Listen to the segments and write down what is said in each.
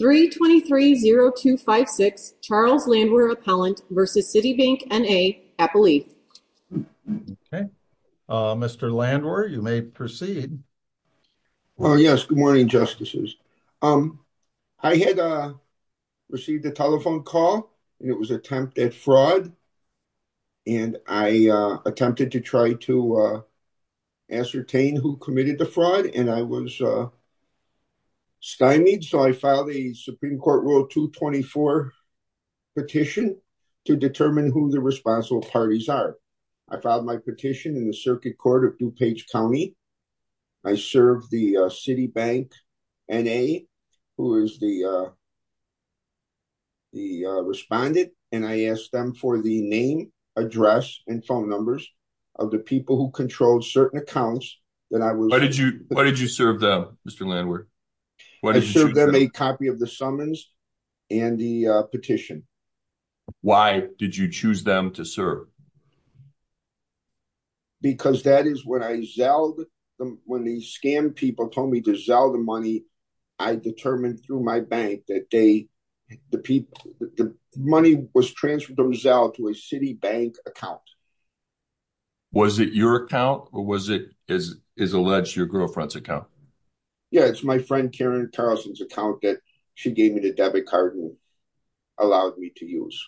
323-0256 Charles Landwer Appellant v. Citibank, N.A. Appellee. Okay, Mr. Landwer, you may proceed. Well, yes, good morning, Justices. I had received a telephone call and it was attempted fraud and I attempted to try to ascertain who committed the fraud and I was Supreme Court Rule 224 petition to determine who the responsible parties are. I filed my petition in the Circuit Court of DuPage County. I served the Citibank N.A., who is the respondent, and I asked them for the name, address, and phone numbers of the people who controlled certain accounts that I was... Why did you serve them, Mr. Landwer? I served them a copy of the summons and the petition. Why did you choose them to serve? Because that is when I zelled, when the scam people told me to zell the money, I determined through my bank that the money was transferred to a Citibank account. Was it your account or was it, as alleged, your girlfriend's account? Yeah, it's my friend Karen Carlson's account that she gave me the debit card and allowed me to use.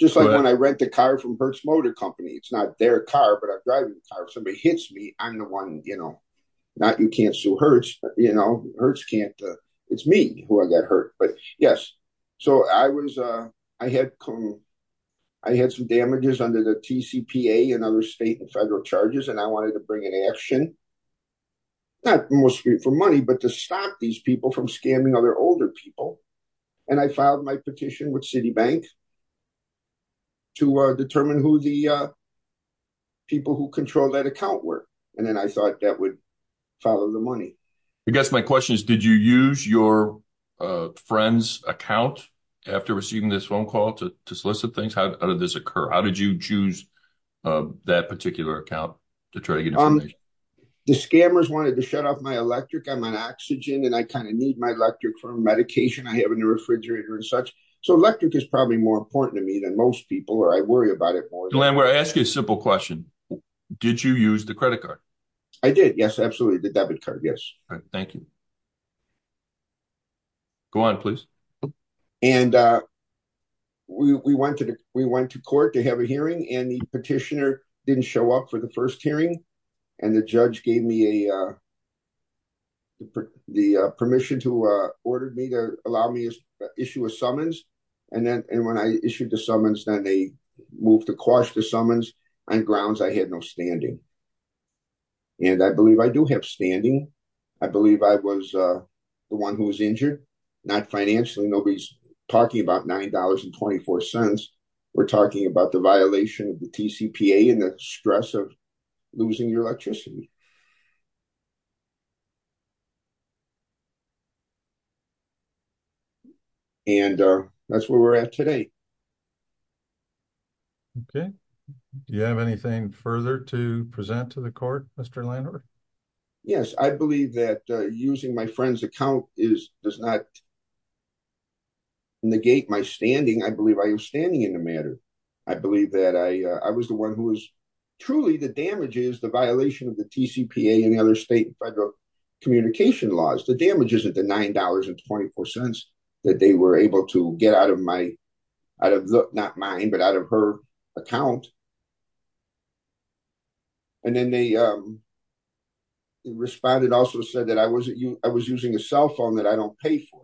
Just like when I rent a car from Hertz Motor Company. It's not their car, but I'm driving the car. If somebody hits me, I'm the one, you know, not you can't sue Hertz, but you know, Hertz can't. It's me who I got hurt, but yes. So, I had some damages under the TCPA and other federal charges, and I wanted to bring in action, not mostly for money, but to stop these people from scamming other older people. And I filed my petition with Citibank to determine who the people who controlled that account were. And then I thought that would follow the money. I guess my question is, did you use your friend's account after receiving this phone call to solicit things? How did this occur? How did you choose that particular account to try to get information? The scammers wanted to shut off my electric. I'm on oxygen, and I kind of need my electric for medication I have in the refrigerator and such. So, electric is probably more important to me than most people, or I worry about it more. Glen, we're asking a simple question. Did you use the credit card? I did. Yes, absolutely. The debit card. Yes. Thank you. Go on, please. And we went to court to have a hearing, and the petitioner didn't show up for the first hearing. And the judge gave me the permission to order me to allow me to issue a summons. And then when I issued the summons, then they moved the cost of summons on grounds I had no standing. And I believe I do have standing. I believe I was the one who was injured. Not financially. Nobody's talking about $9.24. We're talking about the violation of the TCPA and the stress of losing your electricity. And that's where we're at today. Okay. Do you have anything further to add? Using my friend's account does not negate my standing. I believe I have standing in the matter. I believe that I was the one who was... Truly, the damage is the violation of the TCPA and the other state and federal communication laws. The damage is at the $9.24 that they were able to get out of my... Not mine, but out of her account. And then they responded, also said I was using a cell phone that I don't pay for.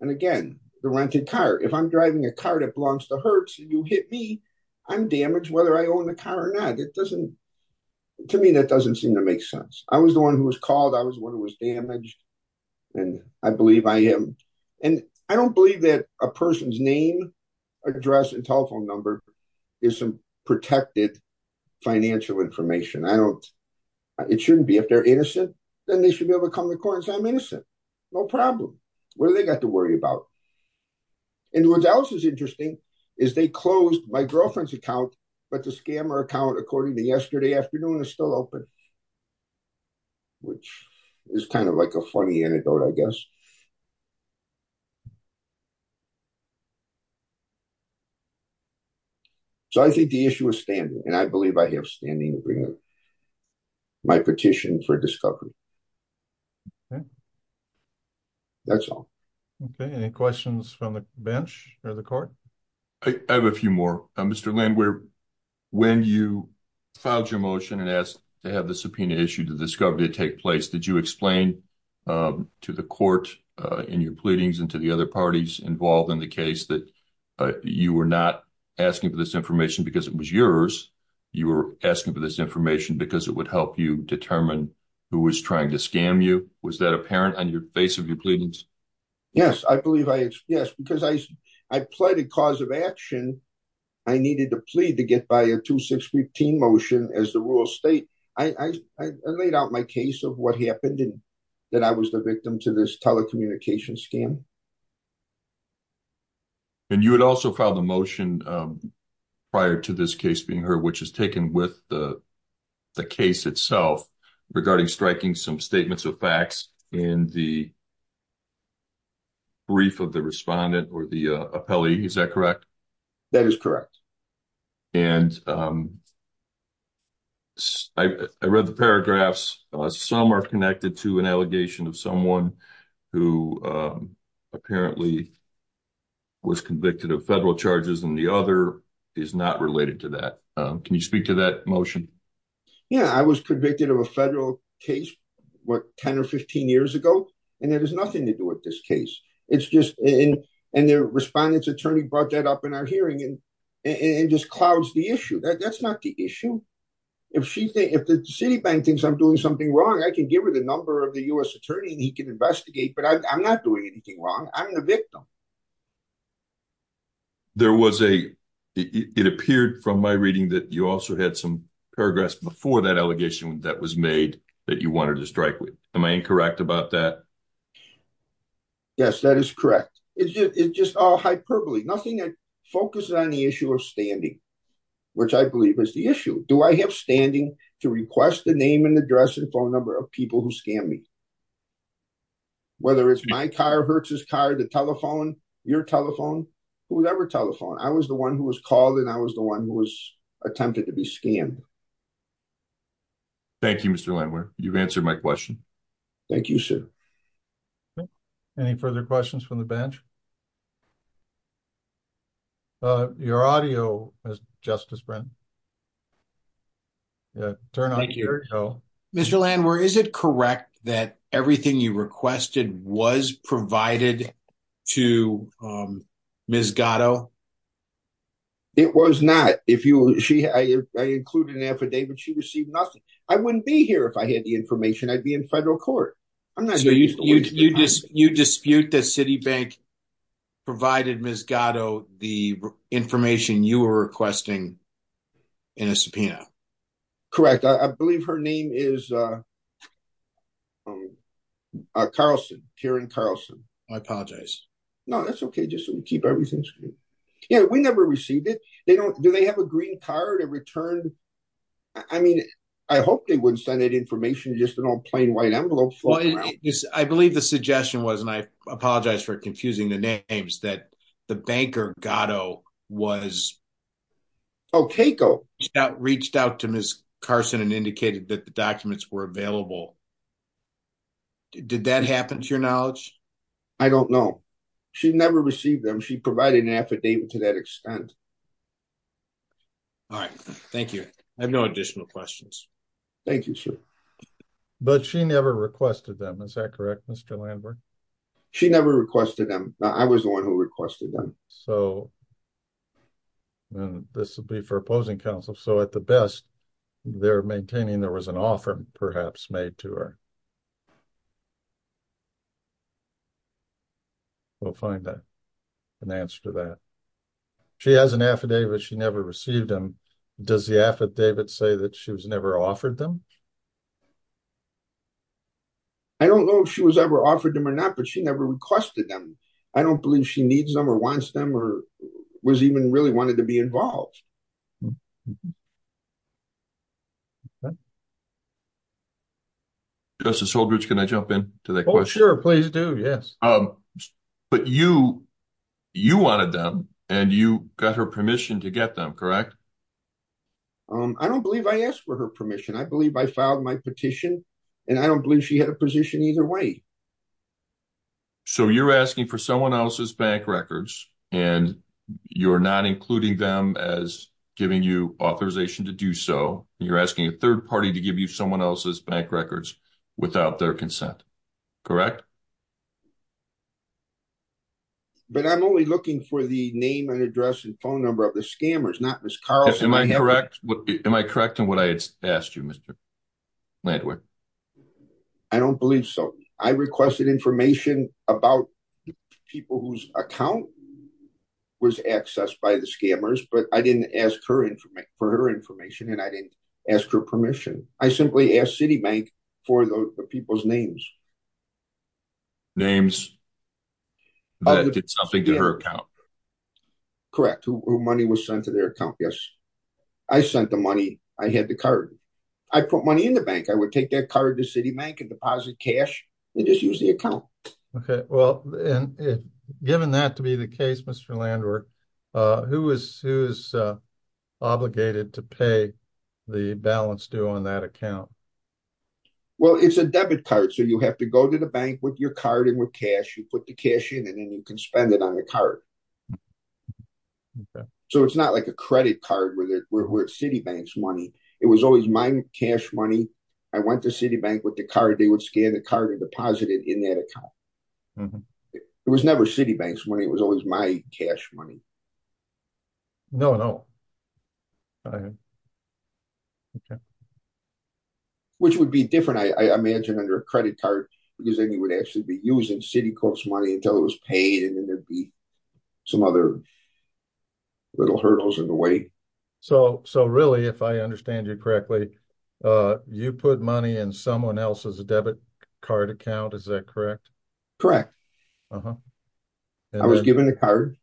And again, the rented car. If I'm driving a car that belongs to Hertz, and you hit me, I'm damaged whether I own the car or not. To me, that doesn't seem to make sense. I was the one who was called. I was the one who was damaged. And I believe I am. And I don't believe that a person's name, address, and telephone number is some protected financial information. It shouldn't be. If they're innocent, then they should be able to come to court and say I'm innocent. No problem. What do they got to worry about? And what else is interesting is they closed my girlfriend's account, but the scammer account according to yesterday afternoon is still open. Which is kind of like a funny anecdote, I guess. So I think the issue is standing. And I believe I have standing to bring up my petition for discovery. Okay. That's all. Okay. Any questions from the bench or the court? I have a few more. Mr. Lind, when you filed your motion and asked to have the subpoena issue to discovery take place, did you explain to the court in your pleadings and to the other parties involved in the case that you were not asking for this information because it was yours? You were asking for this information because it would help you determine who was trying to scam you? Was that apparent on your face of your pleadings? Yes, I believe I did. Yes, because I pleaded cause of action. I needed to plead to get by a 2-6-15 motion as the rural state. I laid out my case of what happened and that I was the victim to this telecommunications scam. And you had also filed a motion prior to this case being heard, which is taken with the case itself regarding striking some statements of facts in the brief of the respondent or the appellee. Is that correct? That is correct. And I read the paragraphs. Some are connected to an allegation of someone who apparently was convicted of federal charges and the other is not related to that. Can you speak to that motion? Yeah, I was convicted of a federal case, what, 10 or 15 years ago, and that has nothing to do with this case. And the respondent's attorney brought that up in our hearing and just clouds the issue. That's not the issue. If the Citibank thinks I'm doing something wrong, I can give her the number of the U.S. attorney and he can investigate, but I'm not doing anything wrong. I'm the victim. It appeared from my reading that you also had some paragraphs before that allegation that was made that you wanted to strike with. Am I incorrect about that? Yes, that is correct. It's just all hyperbole, nothing that focuses on the issue of standing, which I believe is the issue. Do I have standing to request the name and address and phone number of people who scammed me? Whether it's my car, Hertz's car, the telephone, your telephone, whoever telephoned, I was the one who was called and I was the one who was attempted to be scammed. Thank you, Mr. Landwehr. You've answered my question. Thank you, sir. Any further questions from the bench? Your audio, Mr. Justice Brent. Mr. Landwehr, is it correct that everything you requested was provided to Ms. Gatto? It was not. I included an affidavit. She received nothing. I wouldn't be here if I had the provided Ms. Gatto the information you were requesting in a subpoena. Correct. I believe her name is Karen Carlson. I apologize. No, that's okay. Just so we keep everything. We never received it. Do they have a green card? I hope they wouldn't send that information, just an old plain white envelope floating around. I believe the suggestion was, and I apologize for confusing the names, that the banker Gatto reached out to Ms. Carlson and indicated that the documents were available. Did that happen to your knowledge? I don't know. She never received them. She provided an affidavit to that extent. All right. Thank you. I have no additional questions. Thank you, sir. But she never requested them. Is that correct, Mr. Landwehr? She never requested them. I was the one who requested them. This would be for opposing counsel. So at the best, they're maintaining there was an offer perhaps made to her. We'll find an answer to that. She has an affidavit. She never received them. Does the affidavit say that she was never offered them? I don't know if she was ever offered them or not, but she never requested them. I don't believe she needs them or wants them or was even really wanted to be involved. Justice Holdridge, can I jump in to that question? Sure, please do. Yes. But you wanted them and you got her permission to get them, correct? I don't believe I asked for her permission. I believe I filed my petition and I don't believe she had a position either way. So you're asking for someone else's bank records and you're not including them as giving you authorization to do so. You're asking a third party to give you someone else's bank records without their consent, correct? But I'm only looking for the name and address and phone number of the scammers, not Ms. Carlson. Am I correct in what I asked you, Mr. Landwehr? I don't believe so. I requested information about the people whose account was accessed by the scammers, but I didn't ask for her information and I didn't ask her permission. I simply asked Citibank for the people's names. Names that did something to her account. Correct. Who money was sent to their account? Yes. I sent the money. I had the card. I put money in the bank. I would take that card to Citibank and deposit cash and just use the account. Okay. Well, given that to be the case, Mr. Landwehr, who is obligated to pay the balance due on that account? Well, it's a debit card, so you have to go to the bank with your card and with cash. Put the cash in and then you can spend it on the card. So it's not like a credit card where it's Citibank's money. It was always my cash money. I went to Citibank with the card. They would scan the card and deposit it in that account. It was never Citibank's money. It was always my cash money. No, no. Which would be different, I imagine, under a credit card, because then you would actually be using Citicorp's money until it was paid and then there'd be some other little hurdles in the way. So really, if I understand you correctly, you put money in someone else's debit card account, is that correct? Correct. I was given the card.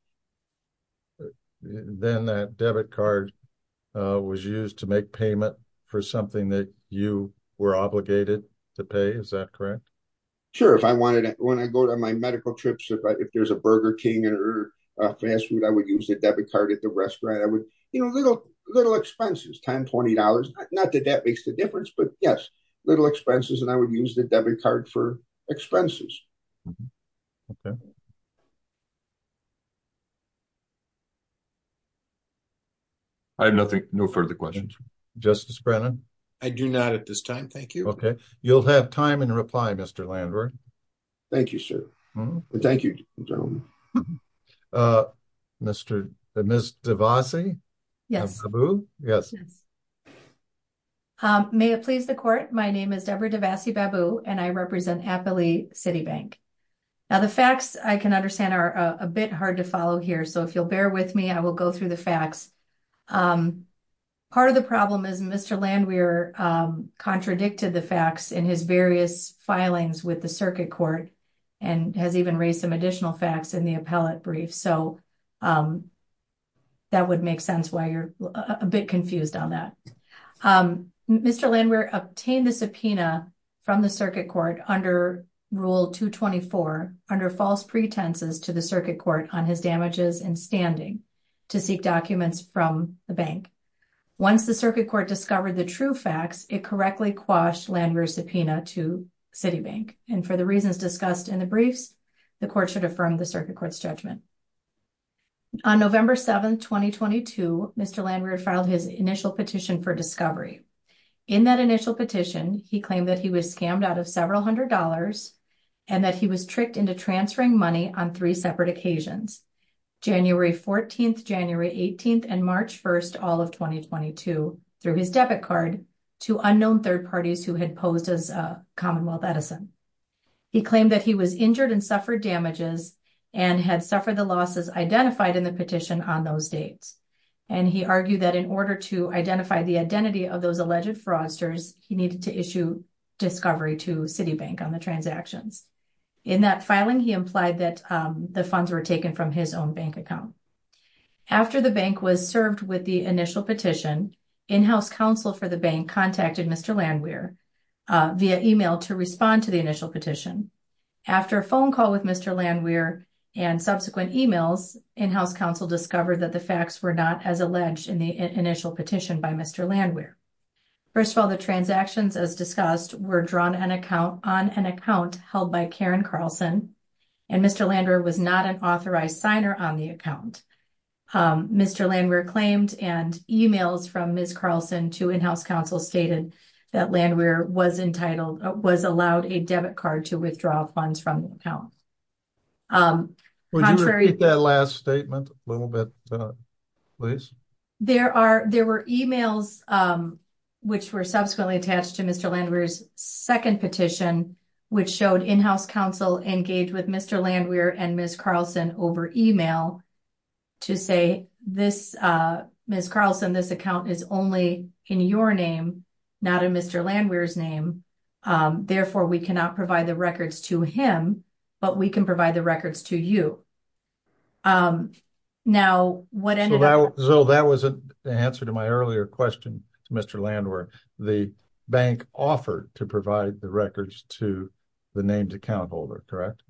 Then that debit card was used to make payment for something that you were obligated to pay, is that correct? Sure. When I go to my medical trips, if there's a Burger King or a fast food, I would use the debit card at the restaurant. Little expenses, $10, $20. Not that that makes the difference, but yes, little expenses, and I would use the debit card for expenses. I have no further questions. Justice Brennan? I do not at this time. Thank you. You'll have time in reply, Mr. Landwehr. Thank you, sir. Thank you, gentlemen. May it please the court, my name is Debra Devasi-Babu, and I represent Appley City Bank. The facts, I can understand, are a bit hard to follow here, so if you'll bear with me, I will go through the facts. Part of the problem is Mr. Landwehr contradicted the facts in his various filings with the circuit court, and has even raised some additional facts in the appellate brief, so that would make sense why you're a bit confused on that. Mr. Landwehr obtained the subpoena from the circuit court under Rule 224 under false pretenses to the circuit court on his damages and standing to seek documents from the bank. Once the circuit court discovered the true facts, it correctly quashed Landwehr's subpoena to City Bank, and for the reasons discussed in the briefs, the court should affirm the circuit court's judgment. On November 7, 2022, Mr. Landwehr filed his initial petition for discovery. In that initial petition, he claimed that he was scammed out of several hundred dollars and that he was tricked into transferring money on three separate occasions, January 14th, January 18th, and March 1st, all of 2022, through his debit card, to unknown third parties who had posed as Commonwealth Edison. He claimed that he was injured and suffered damages and had suffered the losses identified in the petition on those dates, and he argued that in order to identify the identity of those alleged fraudsters, he needed to issue discovery to City Bank on the transactions. In that filing, he implied that the funds were taken from his own bank account. After the bank was served with the initial petition, in-house counsel for the bank contacted Mr. Landwehr via email to respond to the initial petition. After a phone call with Mr. Landwehr and subsequent emails, in-house counsel discovered that the facts were not as alleged in the initial petition by Mr. Landwehr. First of all, the was not an authorized signer on the account. Mr. Landwehr claimed and emails from Ms. Carlson to in-house counsel stated that Landwehr was allowed a debit card to withdraw funds from the account. Would you repeat that last statement a little bit, please? There were emails which were subsequently attached to Mr. Landwehr's second petition, which showed in-house counsel engaged with Mr. Landwehr and Ms. Carlson over email to say, Ms. Carlson, this account is only in your name, not in Mr. Landwehr's name. Therefore, we cannot provide the records to him, but we can provide the records to you. That was the answer to my earlier question to Mr. Landwehr. The bank offered to provide the records to the named account holder, correct?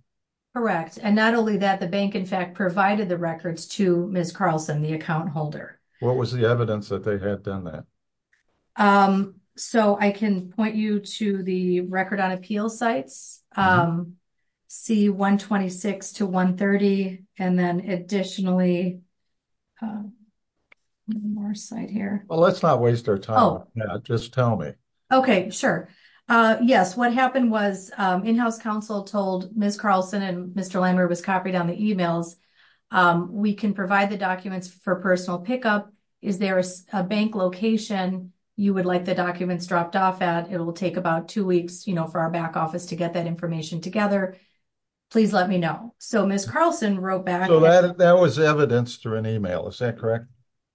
Correct, and not only that, the bank in fact provided the records to Ms. Carlson, the account holder. What was the evidence that they had done that? I can point you to the record on appeal sites, C-126 to 130, and then additionally, one more site here. Well, let's not waste our time. Just tell me. Okay, sure. Yes, what happened was in-house counsel told Ms. Carlson and Mr. Landwehr was copied on the emails. We can provide the documents for personal pickup. Is there a bank location you would like the documents dropped off at? It will take about two weeks, you know, to get that information together. Please let me know. So, Ms. Carlson wrote back. That was evidence through an email, is that correct?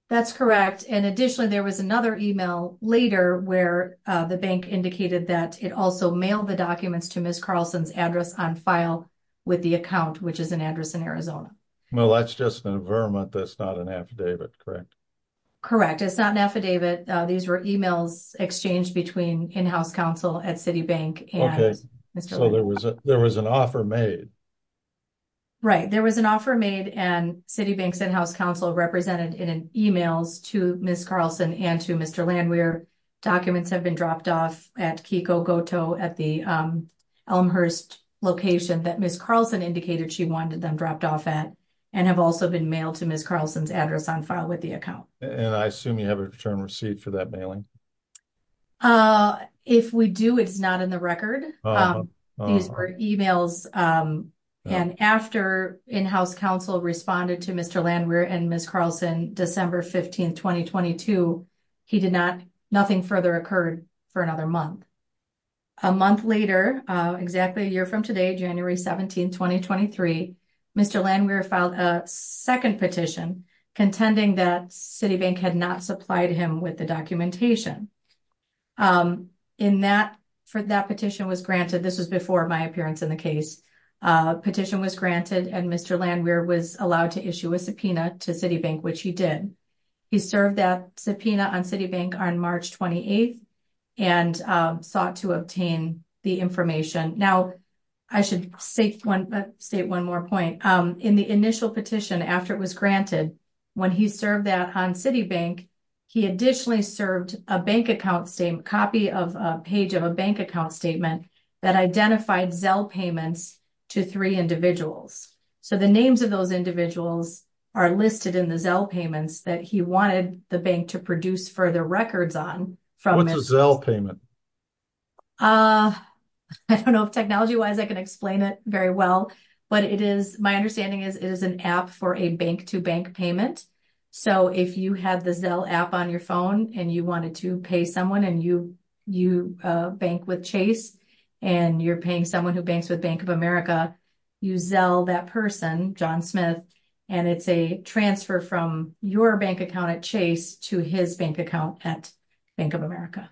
That's correct, and additionally, there was another email later where the bank indicated that it also mailed the documents to Ms. Carlson's address on file with the account, which is an address in Arizona. Well, that's just an affidavit, that's not an affidavit, correct? Correct, it's not an affidavit. These were emails exchanged between in-house counsel at Citibank and Mr. Landwehr. So, there was an offer made? Right, there was an offer made and Citibank's in-house counsel represented in emails to Ms. Carlson and to Mr. Landwehr. Documents have been dropped off at Kiko Goto at the Elmhurst location that Ms. Carlson indicated she wanted them dropped off at and have also been mailed to Ms. Carlson's address on file with the account. And I assume you have a return receipt for that it's not in the record. These were emails and after in-house counsel responded to Mr. Landwehr and Ms. Carlson, December 15, 2022, nothing further occurred for another month. A month later, exactly a year from today, January 17, 2023, Mr. Landwehr filed a second petition contending that that petition was granted. This was before my appearance in the case. Petition was granted and Mr. Landwehr was allowed to issue a subpoena to Citibank, which he did. He served that subpoena on Citibank on March 28 and sought to obtain the information. Now, I should state one more point. In the initial petition after it was granted, when he served that on Citibank, he additionally served a bank account statement, a page of a bank account statement that identified Zelle payments to three individuals. So, the names of those individuals are listed in the Zelle payments that he wanted the bank to produce further records on. What's a Zelle payment? I don't know if technology-wise I can explain it very well, but my understanding is it is an app for a bank-to-bank payment. So, if you have the Zelle app on your phone and you wanted to someone and you bank with Chase and you're paying someone who banks with Bank of America, you Zelle that person, John Smith, and it's a transfer from your bank account at Chase to his bank account at Bank of America.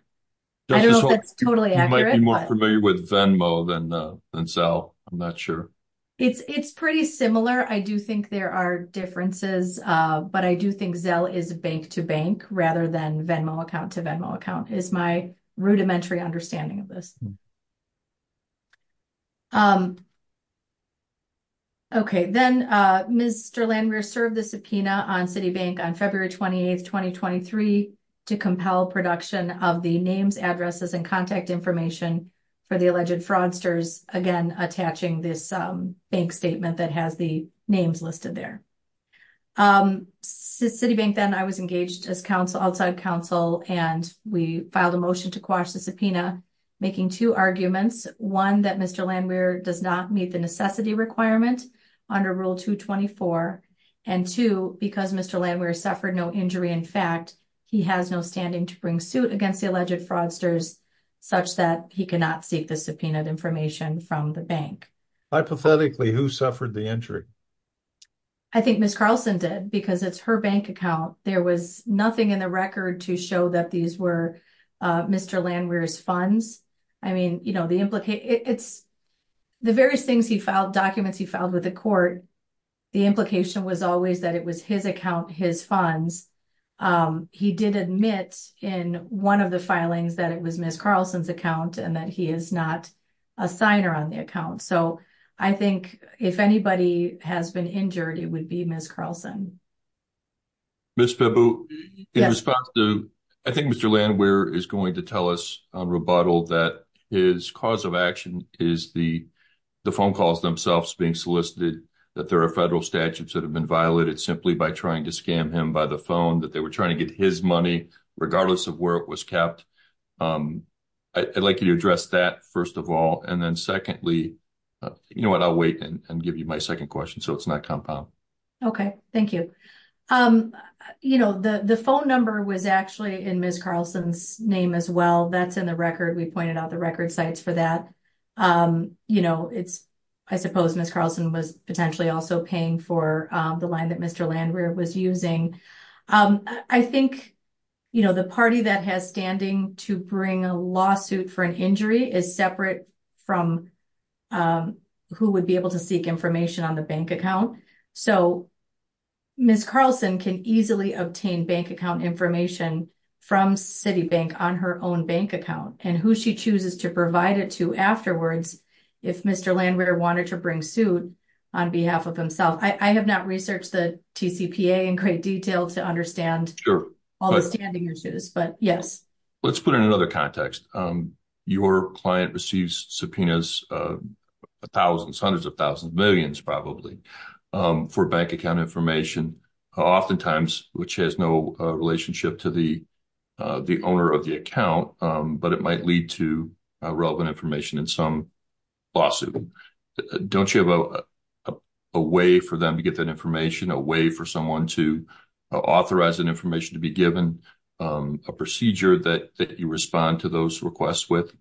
I don't know if that's totally accurate. You might be more familiar with Venmo than Zelle. I'm not sure. It's pretty similar. I do think there are differences, but I do think Zelle is bank-to-bank rather than Venmo account-to-Venmo account is my rudimentary understanding of this. Okay, then Mr. Landrear served the subpoena on Citibank on February 28, 2023 to compel production of the names, addresses, and contact information for the alleged fraudsters, again attaching this bank statement that has the names listed there. Um, Citibank then, I was engaged as outside counsel and we filed a motion to quash the subpoena making two arguments. One, that Mr. Landrear does not meet the necessity requirement under Rule 224. And two, because Mr. Landrear suffered no injury, in fact, he has no standing to bring suit against the alleged fraudsters such that he cannot seek the subpoenaed information from the bank. Hypothetically, who suffered the injury? I think Ms. Carlson did because it's her bank account. There was nothing in the record to show that these were Mr. Landrear's funds. I mean, you know, the implication, it's the various things he filed, documents he filed with the court, the implication was always that it was his account, his funds. Um, he did admit in one of the filings that it was Ms. Carlson's that he is not a signer on the account. So, I think if anybody has been injured, it would be Ms. Carlson. Ms. Pebu, in response to, I think Mr. Landrear is going to tell us on rebuttal that his cause of action is the phone calls themselves being solicited, that there are federal statutes that have been violated simply by trying to scam him by the phone, that they were trying to get his money regardless of where it was kept. Um, I'd like you to address that first of all, and then secondly, you know what, I'll wait and give you my second question so it's not compound. Okay, thank you. Um, you know, the phone number was actually in Ms. Carlson's name as well. That's in the record. We pointed out the record sites for that. Um, you know, it's, I suppose Ms. Carlson was potentially also paying for the line that Mr. Landrear was using. Um, I think, you know, the party that has standing to bring a lawsuit for an injury is separate from, um, who would be able to seek information on the bank account. So, Ms. Carlson can easily obtain bank account information from Citibank on her own bank account and who she chooses to provide it to afterwards if Mr. Landrear wanted to bring suit on behalf of himself. I have not researched the TCPA in great detail to understand all the standing issues, but yes. Let's put it in another context. Um, your client receives subpoenas, uh, thousands, hundreds of thousands, millions probably, um, for bank account information, oftentimes which has no relationship to the, uh, the owner of the account, um, but it don't you have a, a way for them to get that information, a way for someone to authorize an information to be given, um, a procedure that, that you respond to those requests with?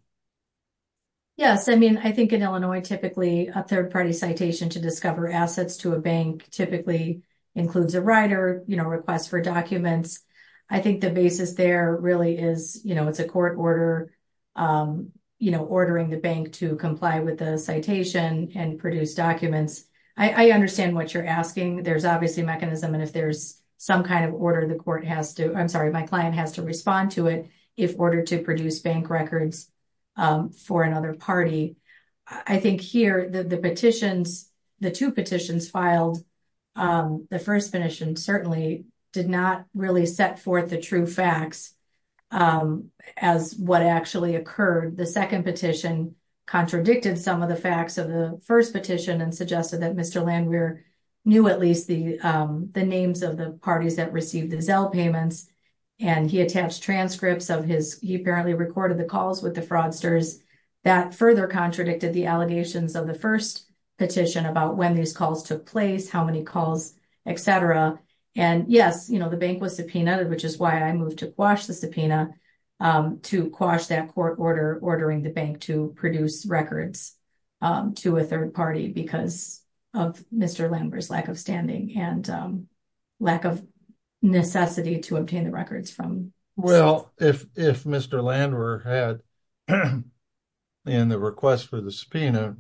Yes. I mean, I think in Illinois, typically a third-party citation to discover assets to a bank typically includes a writer, you know, request for documents. I think the basis there really is, you know, it's a court order, um, you know, ordering the bank to comply with the citation and produce documents. I, I understand what you're asking. There's obviously a mechanism, and if there's some kind of order, the court has to, I'm sorry, my client has to respond to it if ordered to produce bank records, um, for another party. I think here the, the petitions, the two petitions filed, um, the first petition certainly did not really set forth the true facts, um, as what actually occurred. The second petition contradicted some of the facts of the first petition and suggested that Mr. Landwehr knew at least the, um, the names of the parties that received the Zelle payments, and he attached transcripts of his, he apparently recorded the calls with the fraudsters. That further contradicted the allegations of the first petition about when these calls took place, how many calls, et cetera, and yes, you know, the bank was subpoenaed, which is why I moved to quash the subpoena, um, to quash that court order ordering the bank to produce records, um, to a third party because of Mr. Landwehr's lack of standing and, um, lack of necessity to obtain the records from Zelle. Well, if, if Mr. Landwehr had, in the request for the subpoena,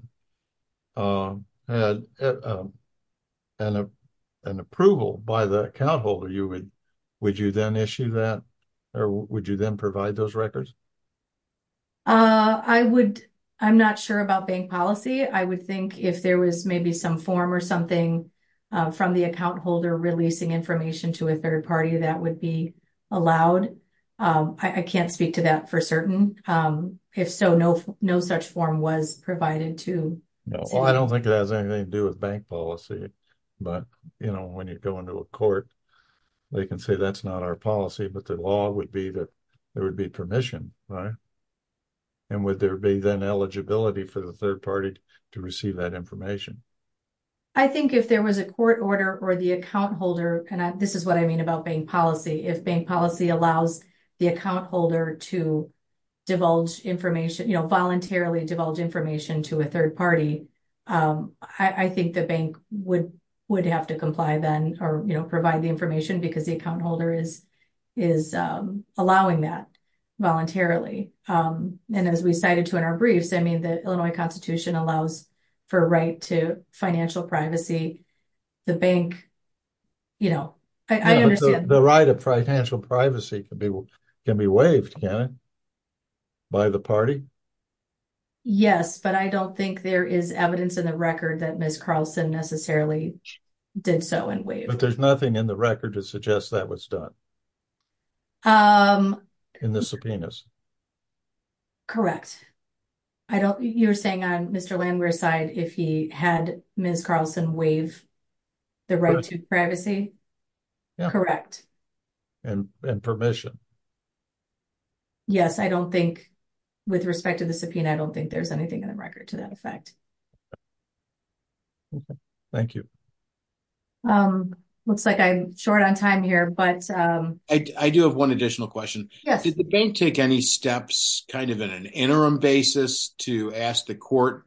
um, had an approval by the account holder, you would, would you then issue that, or would you then provide those records? Uh, I would, I'm not sure about bank policy. I would think if there was maybe some form or something, uh, from the account holder releasing information to a third party, that would be allowed. Um, I, I can't speak to that for certain. Um, if so, no, no such form was provided to. No, well, I don't think it has anything to do with bank policy, but, you know, when you go into a court, they can say that's not our policy, but the law would be that there would be permission, right? And would there be then eligibility for the third party to receive that information? I think if there was a court order or the account holder, and this is what I mean about bank policy, if bank policy allows the account holder to divulge information, you know, voluntarily divulge information to a third party, um, I, I think the bank would, would have to comply then, or, you know, provide the information because the account holder is, is, um, allowing that voluntarily. Um, and as we cited to in our briefs, I mean, the Illinois constitution allows for right to financial privacy, the bank, you know, I, I understand the right of financial privacy can be, can be waived by the party. Yes, but I don't think there is evidence in the record that Ms. Carlson necessarily did so in wave, but there's nothing in the record to suggest that was done, um, in the subpoenas. Correct. I don't, you're saying I'm if he had Ms. Carlson waive the right to privacy. Correct. And, and permission. Yes. I don't think with respect to the subpoena, I don't think there's anything in the record to that effect. Okay. Thank you. Um, looks like I'm short on time here, but, um, I, I do have one additional question. Did the bank take any steps kind of in an interim basis to ask the court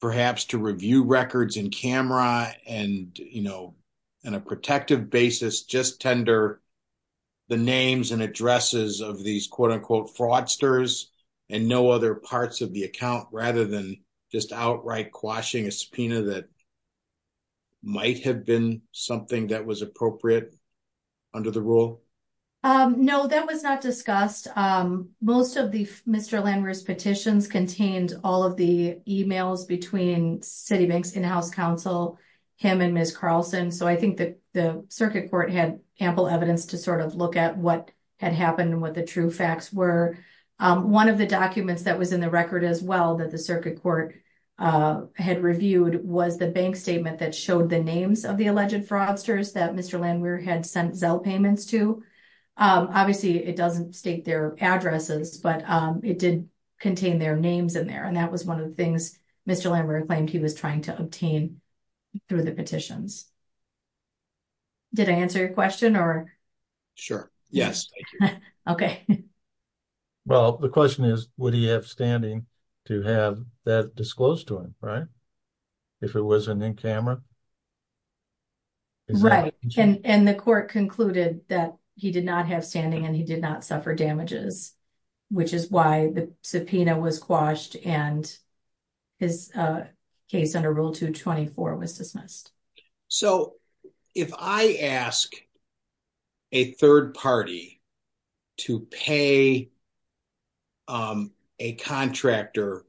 perhaps to review records in camera and, you know, in a protective basis, just tender the names and addresses of these quote unquote fraudsters and no other parts of the account rather than just outright quashing a subpoena that might have been something that was appropriate under the rule. Um, no, that was not discussed. Um, most of the Mr. Landwehr's contained all of the emails between Citibank's in-house counsel, him and Ms. Carlson. So I think that the circuit court had ample evidence to sort of look at what had happened and what the true facts were. Um, one of the documents that was in the record as well, that the circuit court, uh, had reviewed was the bank statement that showed the names of the alleged fraudsters that Mr. Landwehr had sent Zell payments to. Um, obviously it doesn't state their addresses, but, um, it did contain their names in there. And that was one of the things Mr. Landwehr claimed he was trying to obtain through the petitions. Did I answer your question or? Sure. Yes. Okay. Well, the question is, would he have standing to have that disclosed to him, right? If it wasn't in camera. Right. And the court concluded that he did not have standing and he did not suffer damages. Which is why the subpoena was quashed and his, uh, case under rule two 24 was dismissed. So if I ask a third party to pay, um, a contractor,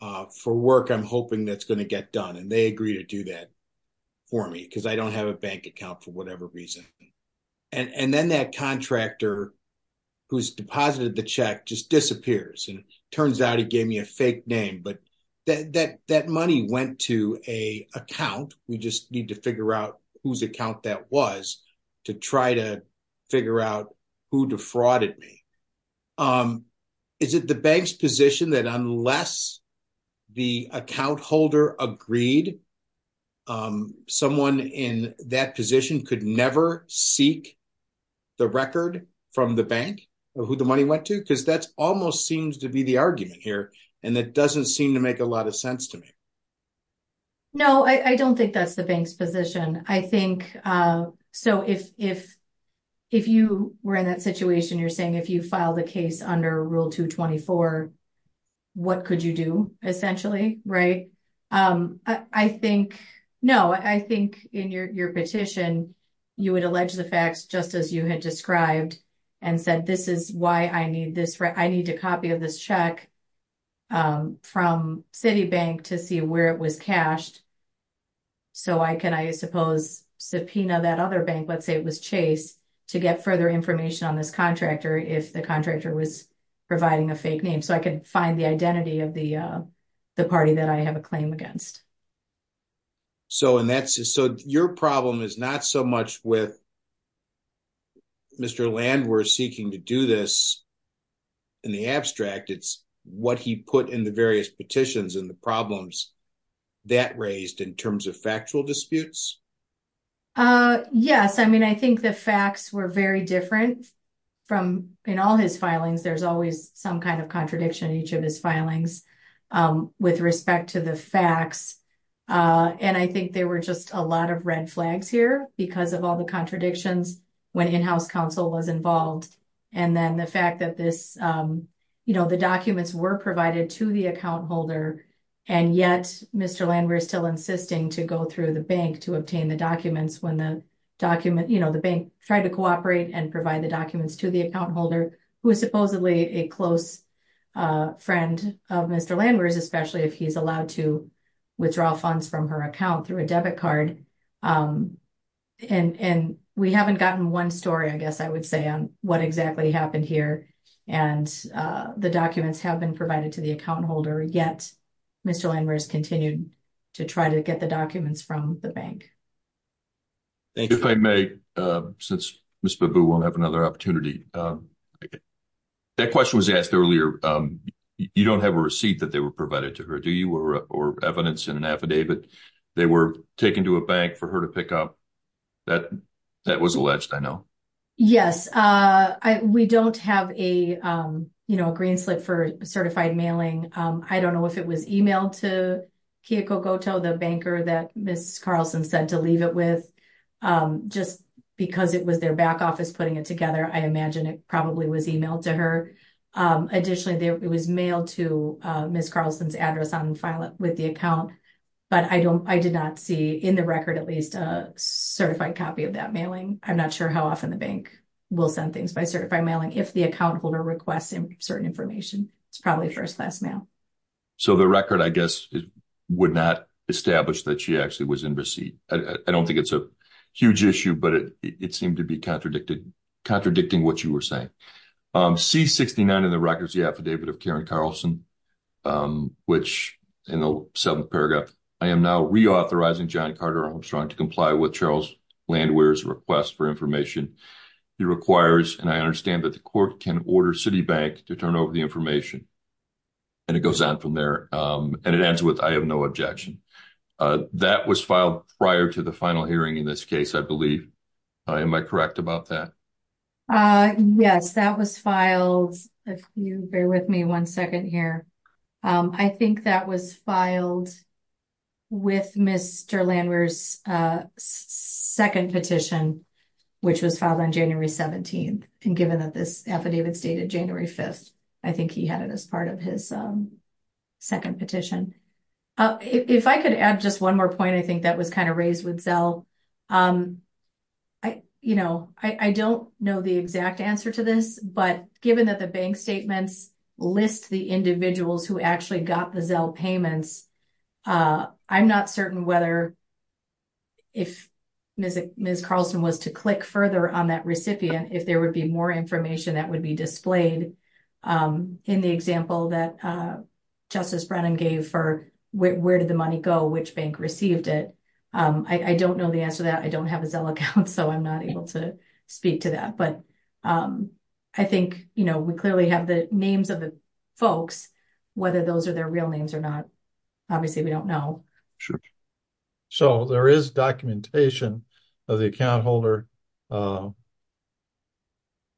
uh, for work, I'm hoping that's going to get done. And they agree to do that for me. Cause I don't have a bank account for whatever reason. And then that contractor who's deposited the check just disappears. And it turns out he gave me a fake name, but that, that, that money went to a account. We just need to figure out whose account that was to try to figure out who defrauded me. Um, is it the bank's position that unless the account holder agreed, um, someone in that position could never seek the record from the bank of who the money went to? Cause that's almost seems to be the argument here. And that doesn't seem to make a lot of sense to me. No, I don't think that's the bank's position. I think, uh, so if, if, if you were in that situation, you're saying if you file the case under rule two 24, what could you do essentially? Right. Um, I think, no, I think in your, your petition, you would allege the facts just as you had described and said, this is why I need this. I need a copy of this check, um, from Citibank to see where it was cashed. So I can, I suppose subpoena that other bank, let's say it was Chase to get further information on this contractor. If the contractor was providing a fake name so I could find the identity of the, uh, the party that I have a claim against. So, and that's, so your problem is not so much with Mr. Land, we're seeking to do this in the abstract. It's what he put in the various petitions and the problems that raised in terms of factual disputes. Uh, yes. I mean, I think the in all his filings, there's always some kind of contradiction in each of his filings, um, with respect to the facts. Uh, and I think there were just a lot of red flags here because of all the contradictions when in-house counsel was involved. And then the fact that this, um, you know, the documents were provided to the account holder and yet Mr. Land, we're still insisting to go through the bank to obtain the documents when the document, you know, the bank tried to cooperate and provide the documents to the account holder who is supposedly a close, uh, friend of Mr. Land where is, especially if he's allowed to withdraw funds from her account through a debit card. Um, and, and we haven't gotten one story, I guess I would say on what exactly happened here. And, uh, the documents have been provided to the account holder yet. Mr. Land where's continued to try to get the documents from the bank. Thank you. If I may, uh, since Ms. Babu won't have another opportunity. Um, that question was asked earlier. Um, you don't have a receipt that they were provided to her, do you? Or, or evidence in an affidavit they were taken to a bank for her to pick up. That, that was alleged, I know. Yes. Uh, I, we don't have a, um, you know, a green slip for certified mailing. Um, I don't know if it was emailed to Kiyoko Goto, the banker that Ms. Carlson said to leave it with, um, just because it was their back office putting it together. I imagine it probably was emailed to her. Um, additionally there, it was mailed to, uh, Ms. Carlson's address on file with the account. But I don't, I did not see in the record at least a certified copy of that mailing. I'm not sure how often the bank will send things by certified mailing. If the account holder requests in certain information, it's probably first class mail. So the record, I guess would not establish that she actually was in receipt. I don't think it's a huge issue, but it, it seemed to be contradicting, contradicting what you were saying. Um, C-69 in the records, the affidavit of Karen Carlson, um, which in the seventh paragraph, I am now reauthorizing John Carter Armstrong to comply with Charles Landwehr's request for information he requires. And I understand that the court can order Citibank to turn over the That was filed prior to the final hearing in this case, I believe. Am I correct about that? Uh, yes, that was filed. If you bear with me one second here. Um, I think that was filed with Mr. Landwehr's, uh, second petition, which was filed on January 17th. And given that this affidavit stated January 5th, I think he had it as part of his, um, second petition. Uh, if I could add just one more point, I think that was kind of raised with Zell. Um, I, you know, I, I don't know the exact answer to this, but given that the bank statements list the individuals who actually got the Zell payments, uh, I'm not certain whether if Ms. Carlson was to click further on that recipient, if there would be more information that would be displayed, um, in the example that, uh, Justice Brennan gave for where did the money go? Which bank received it? Um, I, I don't know the answer to that. I don't have a Zell account, so I'm not able to speak to that, but, um, I think, you know, we clearly have the names of the folks, whether those are their real names or not. Obviously we don't know. Sure. So there is documentation of the account holder, uh,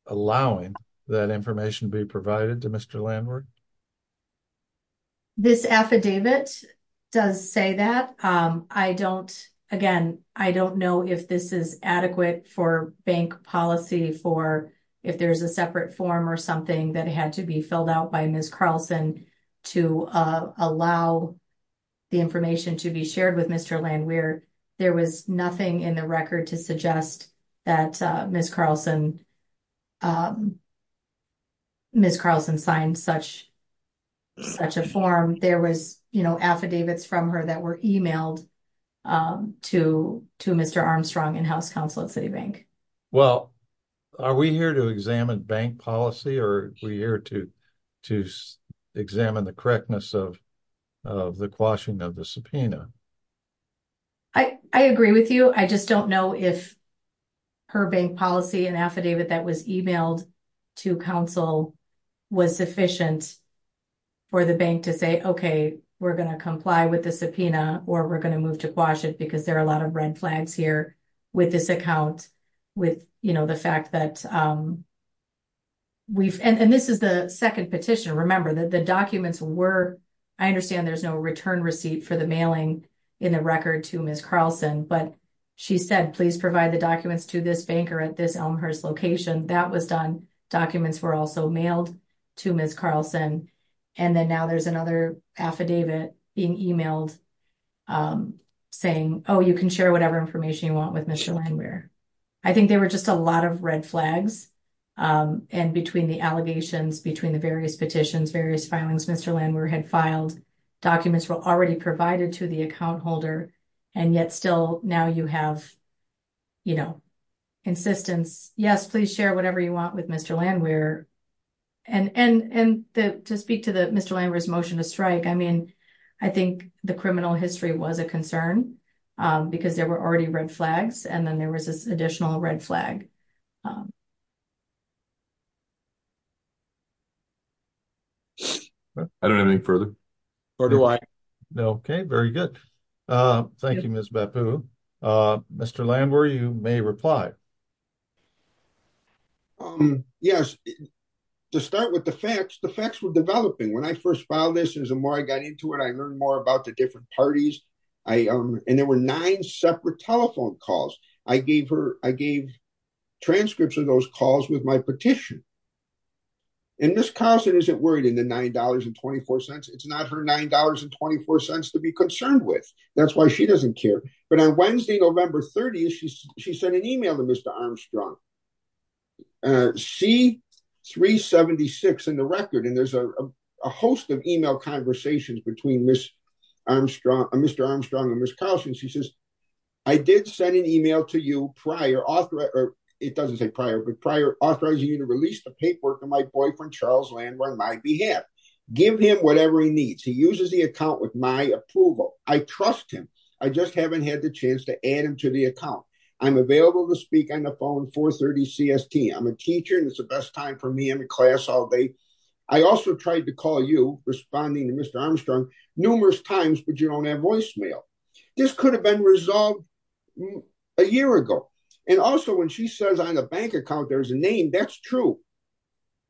allowing that information to be provided to Mr. Landward? This affidavit does say that. Um, I don't, again, I don't know if this is adequate for bank policy for if there's a separate form or something that had to be filled out by Ms. Carlson to, uh, allow the information to be shared with Mr. Landward. There was nothing in the record to suggest that, uh, Ms. Carlson, um, Ms. Carlson signed such, such a form. There was, you know, affidavits from her that were emailed, um, to, to Mr. Armstrong and House Counsel at Citibank. Well, are we here to examine bank policy or are we here to, to examine the correctness of, of the quashing of the subpoena? I, I agree with you. I just don't know if her bank policy and affidavit that was emailed to counsel was sufficient for the bank to say, okay, we're going to comply with the subpoena or we're going to move to quash it because there are a lot of red flags here with this account, with, you know, the fact that, um, we've, and this is the second petition. Remember that the documents were, I understand there's no return receipt for the mailing in the record to Ms. Carlson, but she said, please provide the documents to this banker at this Elmhurst location. That was done. Documents were also mailed to Ms. Carlson. And then now there's another affidavit being emailed, um, saying, oh, you can share whatever information you want with Mr. Landwehr. I think there were just a lot of red flags, um, and between the allegations, between the various petitions, various filings, Mr. Landwehr had filed, documents were already provided to the account holder. And yet still now you have, you know, insistence, yes, please share whatever you want with Mr. Landwehr. And, and, and to speak to the Mr. Landwehr's motion to strike, I mean, I think the criminal history was a concern, um, because there were already red flags and then there was this additional red flag. Um, I don't have any further or do I know. Okay. Very good. Uh, thank you, Ms. Bapu. Uh, Mr. Landwehr, you may reply. Um, yes, to start with the facts, the facts were developing when I first filed this. And the more I got into it, I learned more about the different parties. I, um, and there were nine separate telephone calls. I gave her, I gave transcripts of those calls with my petition. And Ms. Carlson isn't worried in the $9.24. It's not her $9.24 to be concerned with. That's why she doesn't care. But on Wednesday, November 30th, she sent an email to Mr. Armstrong, uh, C-376 in the record. And there's a, a host of email conversations between Ms. Armstrong, Mr. Armstrong and Ms. Carlson. She says, I did send an email to you prior author or it doesn't say prior, but prior authorizing you to release the paperwork of my boyfriend, Charles Landwehr on my behalf, give him whatever he needs. He uses the account with my approval. I trust him. I just haven't had the chance to add him to the account. I'm available to speak on the phone 430 CST. I'm a teacher. And it's the best time for me in the class all day. I also tried to call you responding to Mr. Armstrong numerous times, but you don't have voicemail. This could have been resolved a year ago. And also when she says on the bank account, there's a name that's true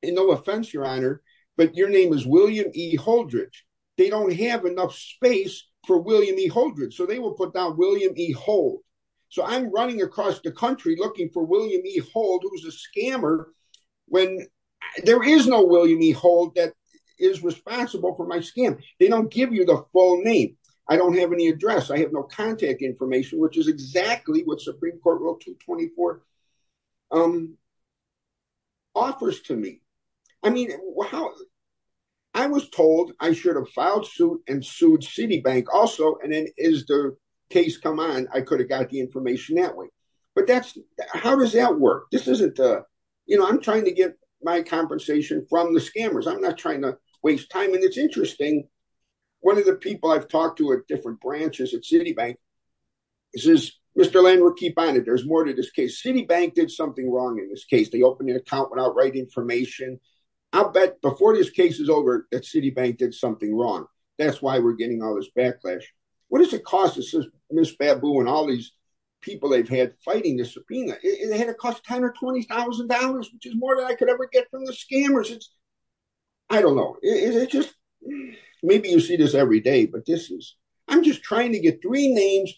and no offense, your honor, but your name is William E. Holdridge. They don't have enough space for William E. Holdridge. So they will put down William E. Hold. So I'm running across the country looking for William E. Hold, who's a scammer. When there is no William E. Hold that is responsible for my scam. They don't give you the full name. I don't have any address. I have no contact information, which is exactly what I mean. I was told I should have filed suit and sued Citibank also. And then as the case come on, I could have got the information that way. But that's how does that work? I'm trying to get my compensation from the scammers. I'm not trying to waste time. And it's interesting. One of the people I've talked to at different branches at Citibank says, Mr. Landry, keep on it. There's more to this case. Citibank did something wrong in this case. They opened an outright information. I'll bet before this case is over that Citibank did something wrong. That's why we're getting all this backlash. What does it cost? This is Ms. Babu and all these people they've had fighting the subpoena. It had to cost $120,000, which is more than I could ever get from the scammers. I don't know. Maybe you see this every day, but I'm just trying to get three names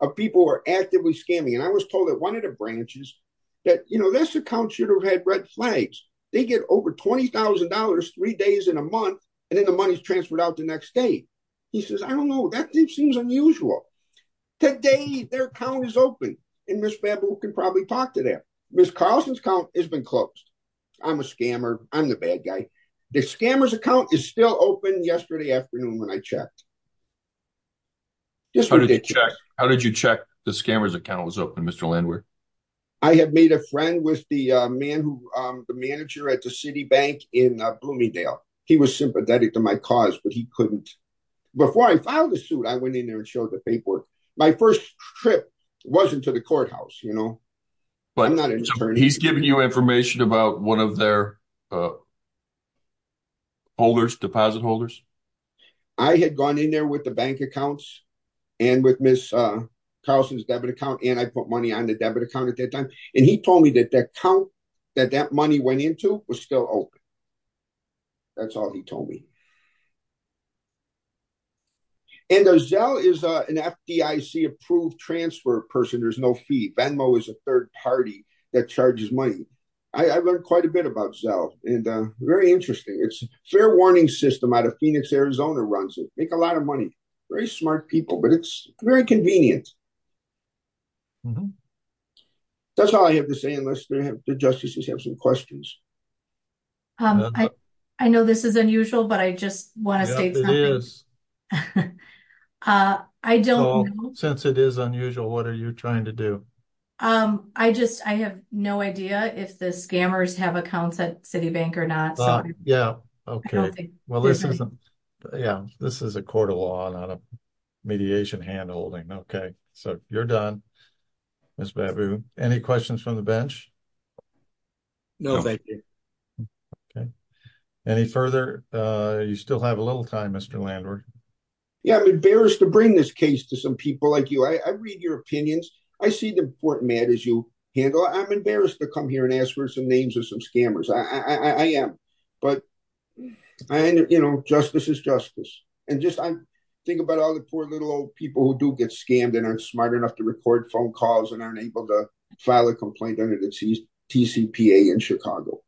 of people who are actively scamming. And I was told that one of the branches that this account should have had red flags. They get over $20,000 three days in a month, and then the money's transferred out the next day. He says, I don't know. That seems unusual. Today, their account is open. And Ms. Babu can probably talk to them. Ms. Carlson's account has been closed. I'm a scammer. I'm the bad guy. The scammer's account is still open yesterday afternoon when I checked. How did you check the scammer's account was open, Mr. Landry? I have made a friend with the manager at the Citibank in Bloomingdale. He was sympathetic to my cause, but he couldn't. Before I filed the suit, I went in there and showed the paperwork. My first trip wasn't to the courthouse. I'm not an attorney. He's giving you information about one of their deposit holders? I had gone in there with the bank accounts and with Ms. Carlson's debit account, and I put money on the debit account at that time. He told me that the account that that money went into was still open. That's all he told me. Zelle is an FDIC-approved transfer person. There's no fee. Venmo is a third party that charges money. I've learned quite a bit about Zelle. It's very interesting. It's a fair warning system out of Phoenix, Arizona. They make a lot of money. Very smart people, but it's very convenient. That's all I have to say, unless the justices have some questions. I know this is unusual, but I just want to state something. Yes, it is. I don't know. Since it is unusual, what are you trying to do? I have no idea if the scammers have accounts at Citibank or not. Yes, this is a court of law, not a mediation hand holding. You're done, Ms. Babu. Any questions from the bench? No, thank you. Any further? You still have a little time, Mr. Landward. Yes, I'm embarrassed to bring this case to some people like you. I read your opinions. I see the important matters you handle. I'm embarrassed to come here and ask for some names of some scammers. But justice is justice. Think about all the poor little old people who do get scammed and aren't smart enough to report phone calls and aren't able to file a complaint under the TCPA in Chicago.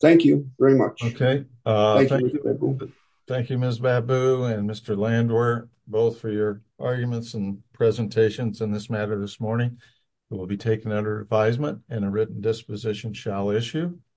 Thank you very much. Thank you, Ms. Babu and Mr. Landward, both for your arguments and presentations on this matter this morning. It will be taken under advisement and a written disposition shall issue.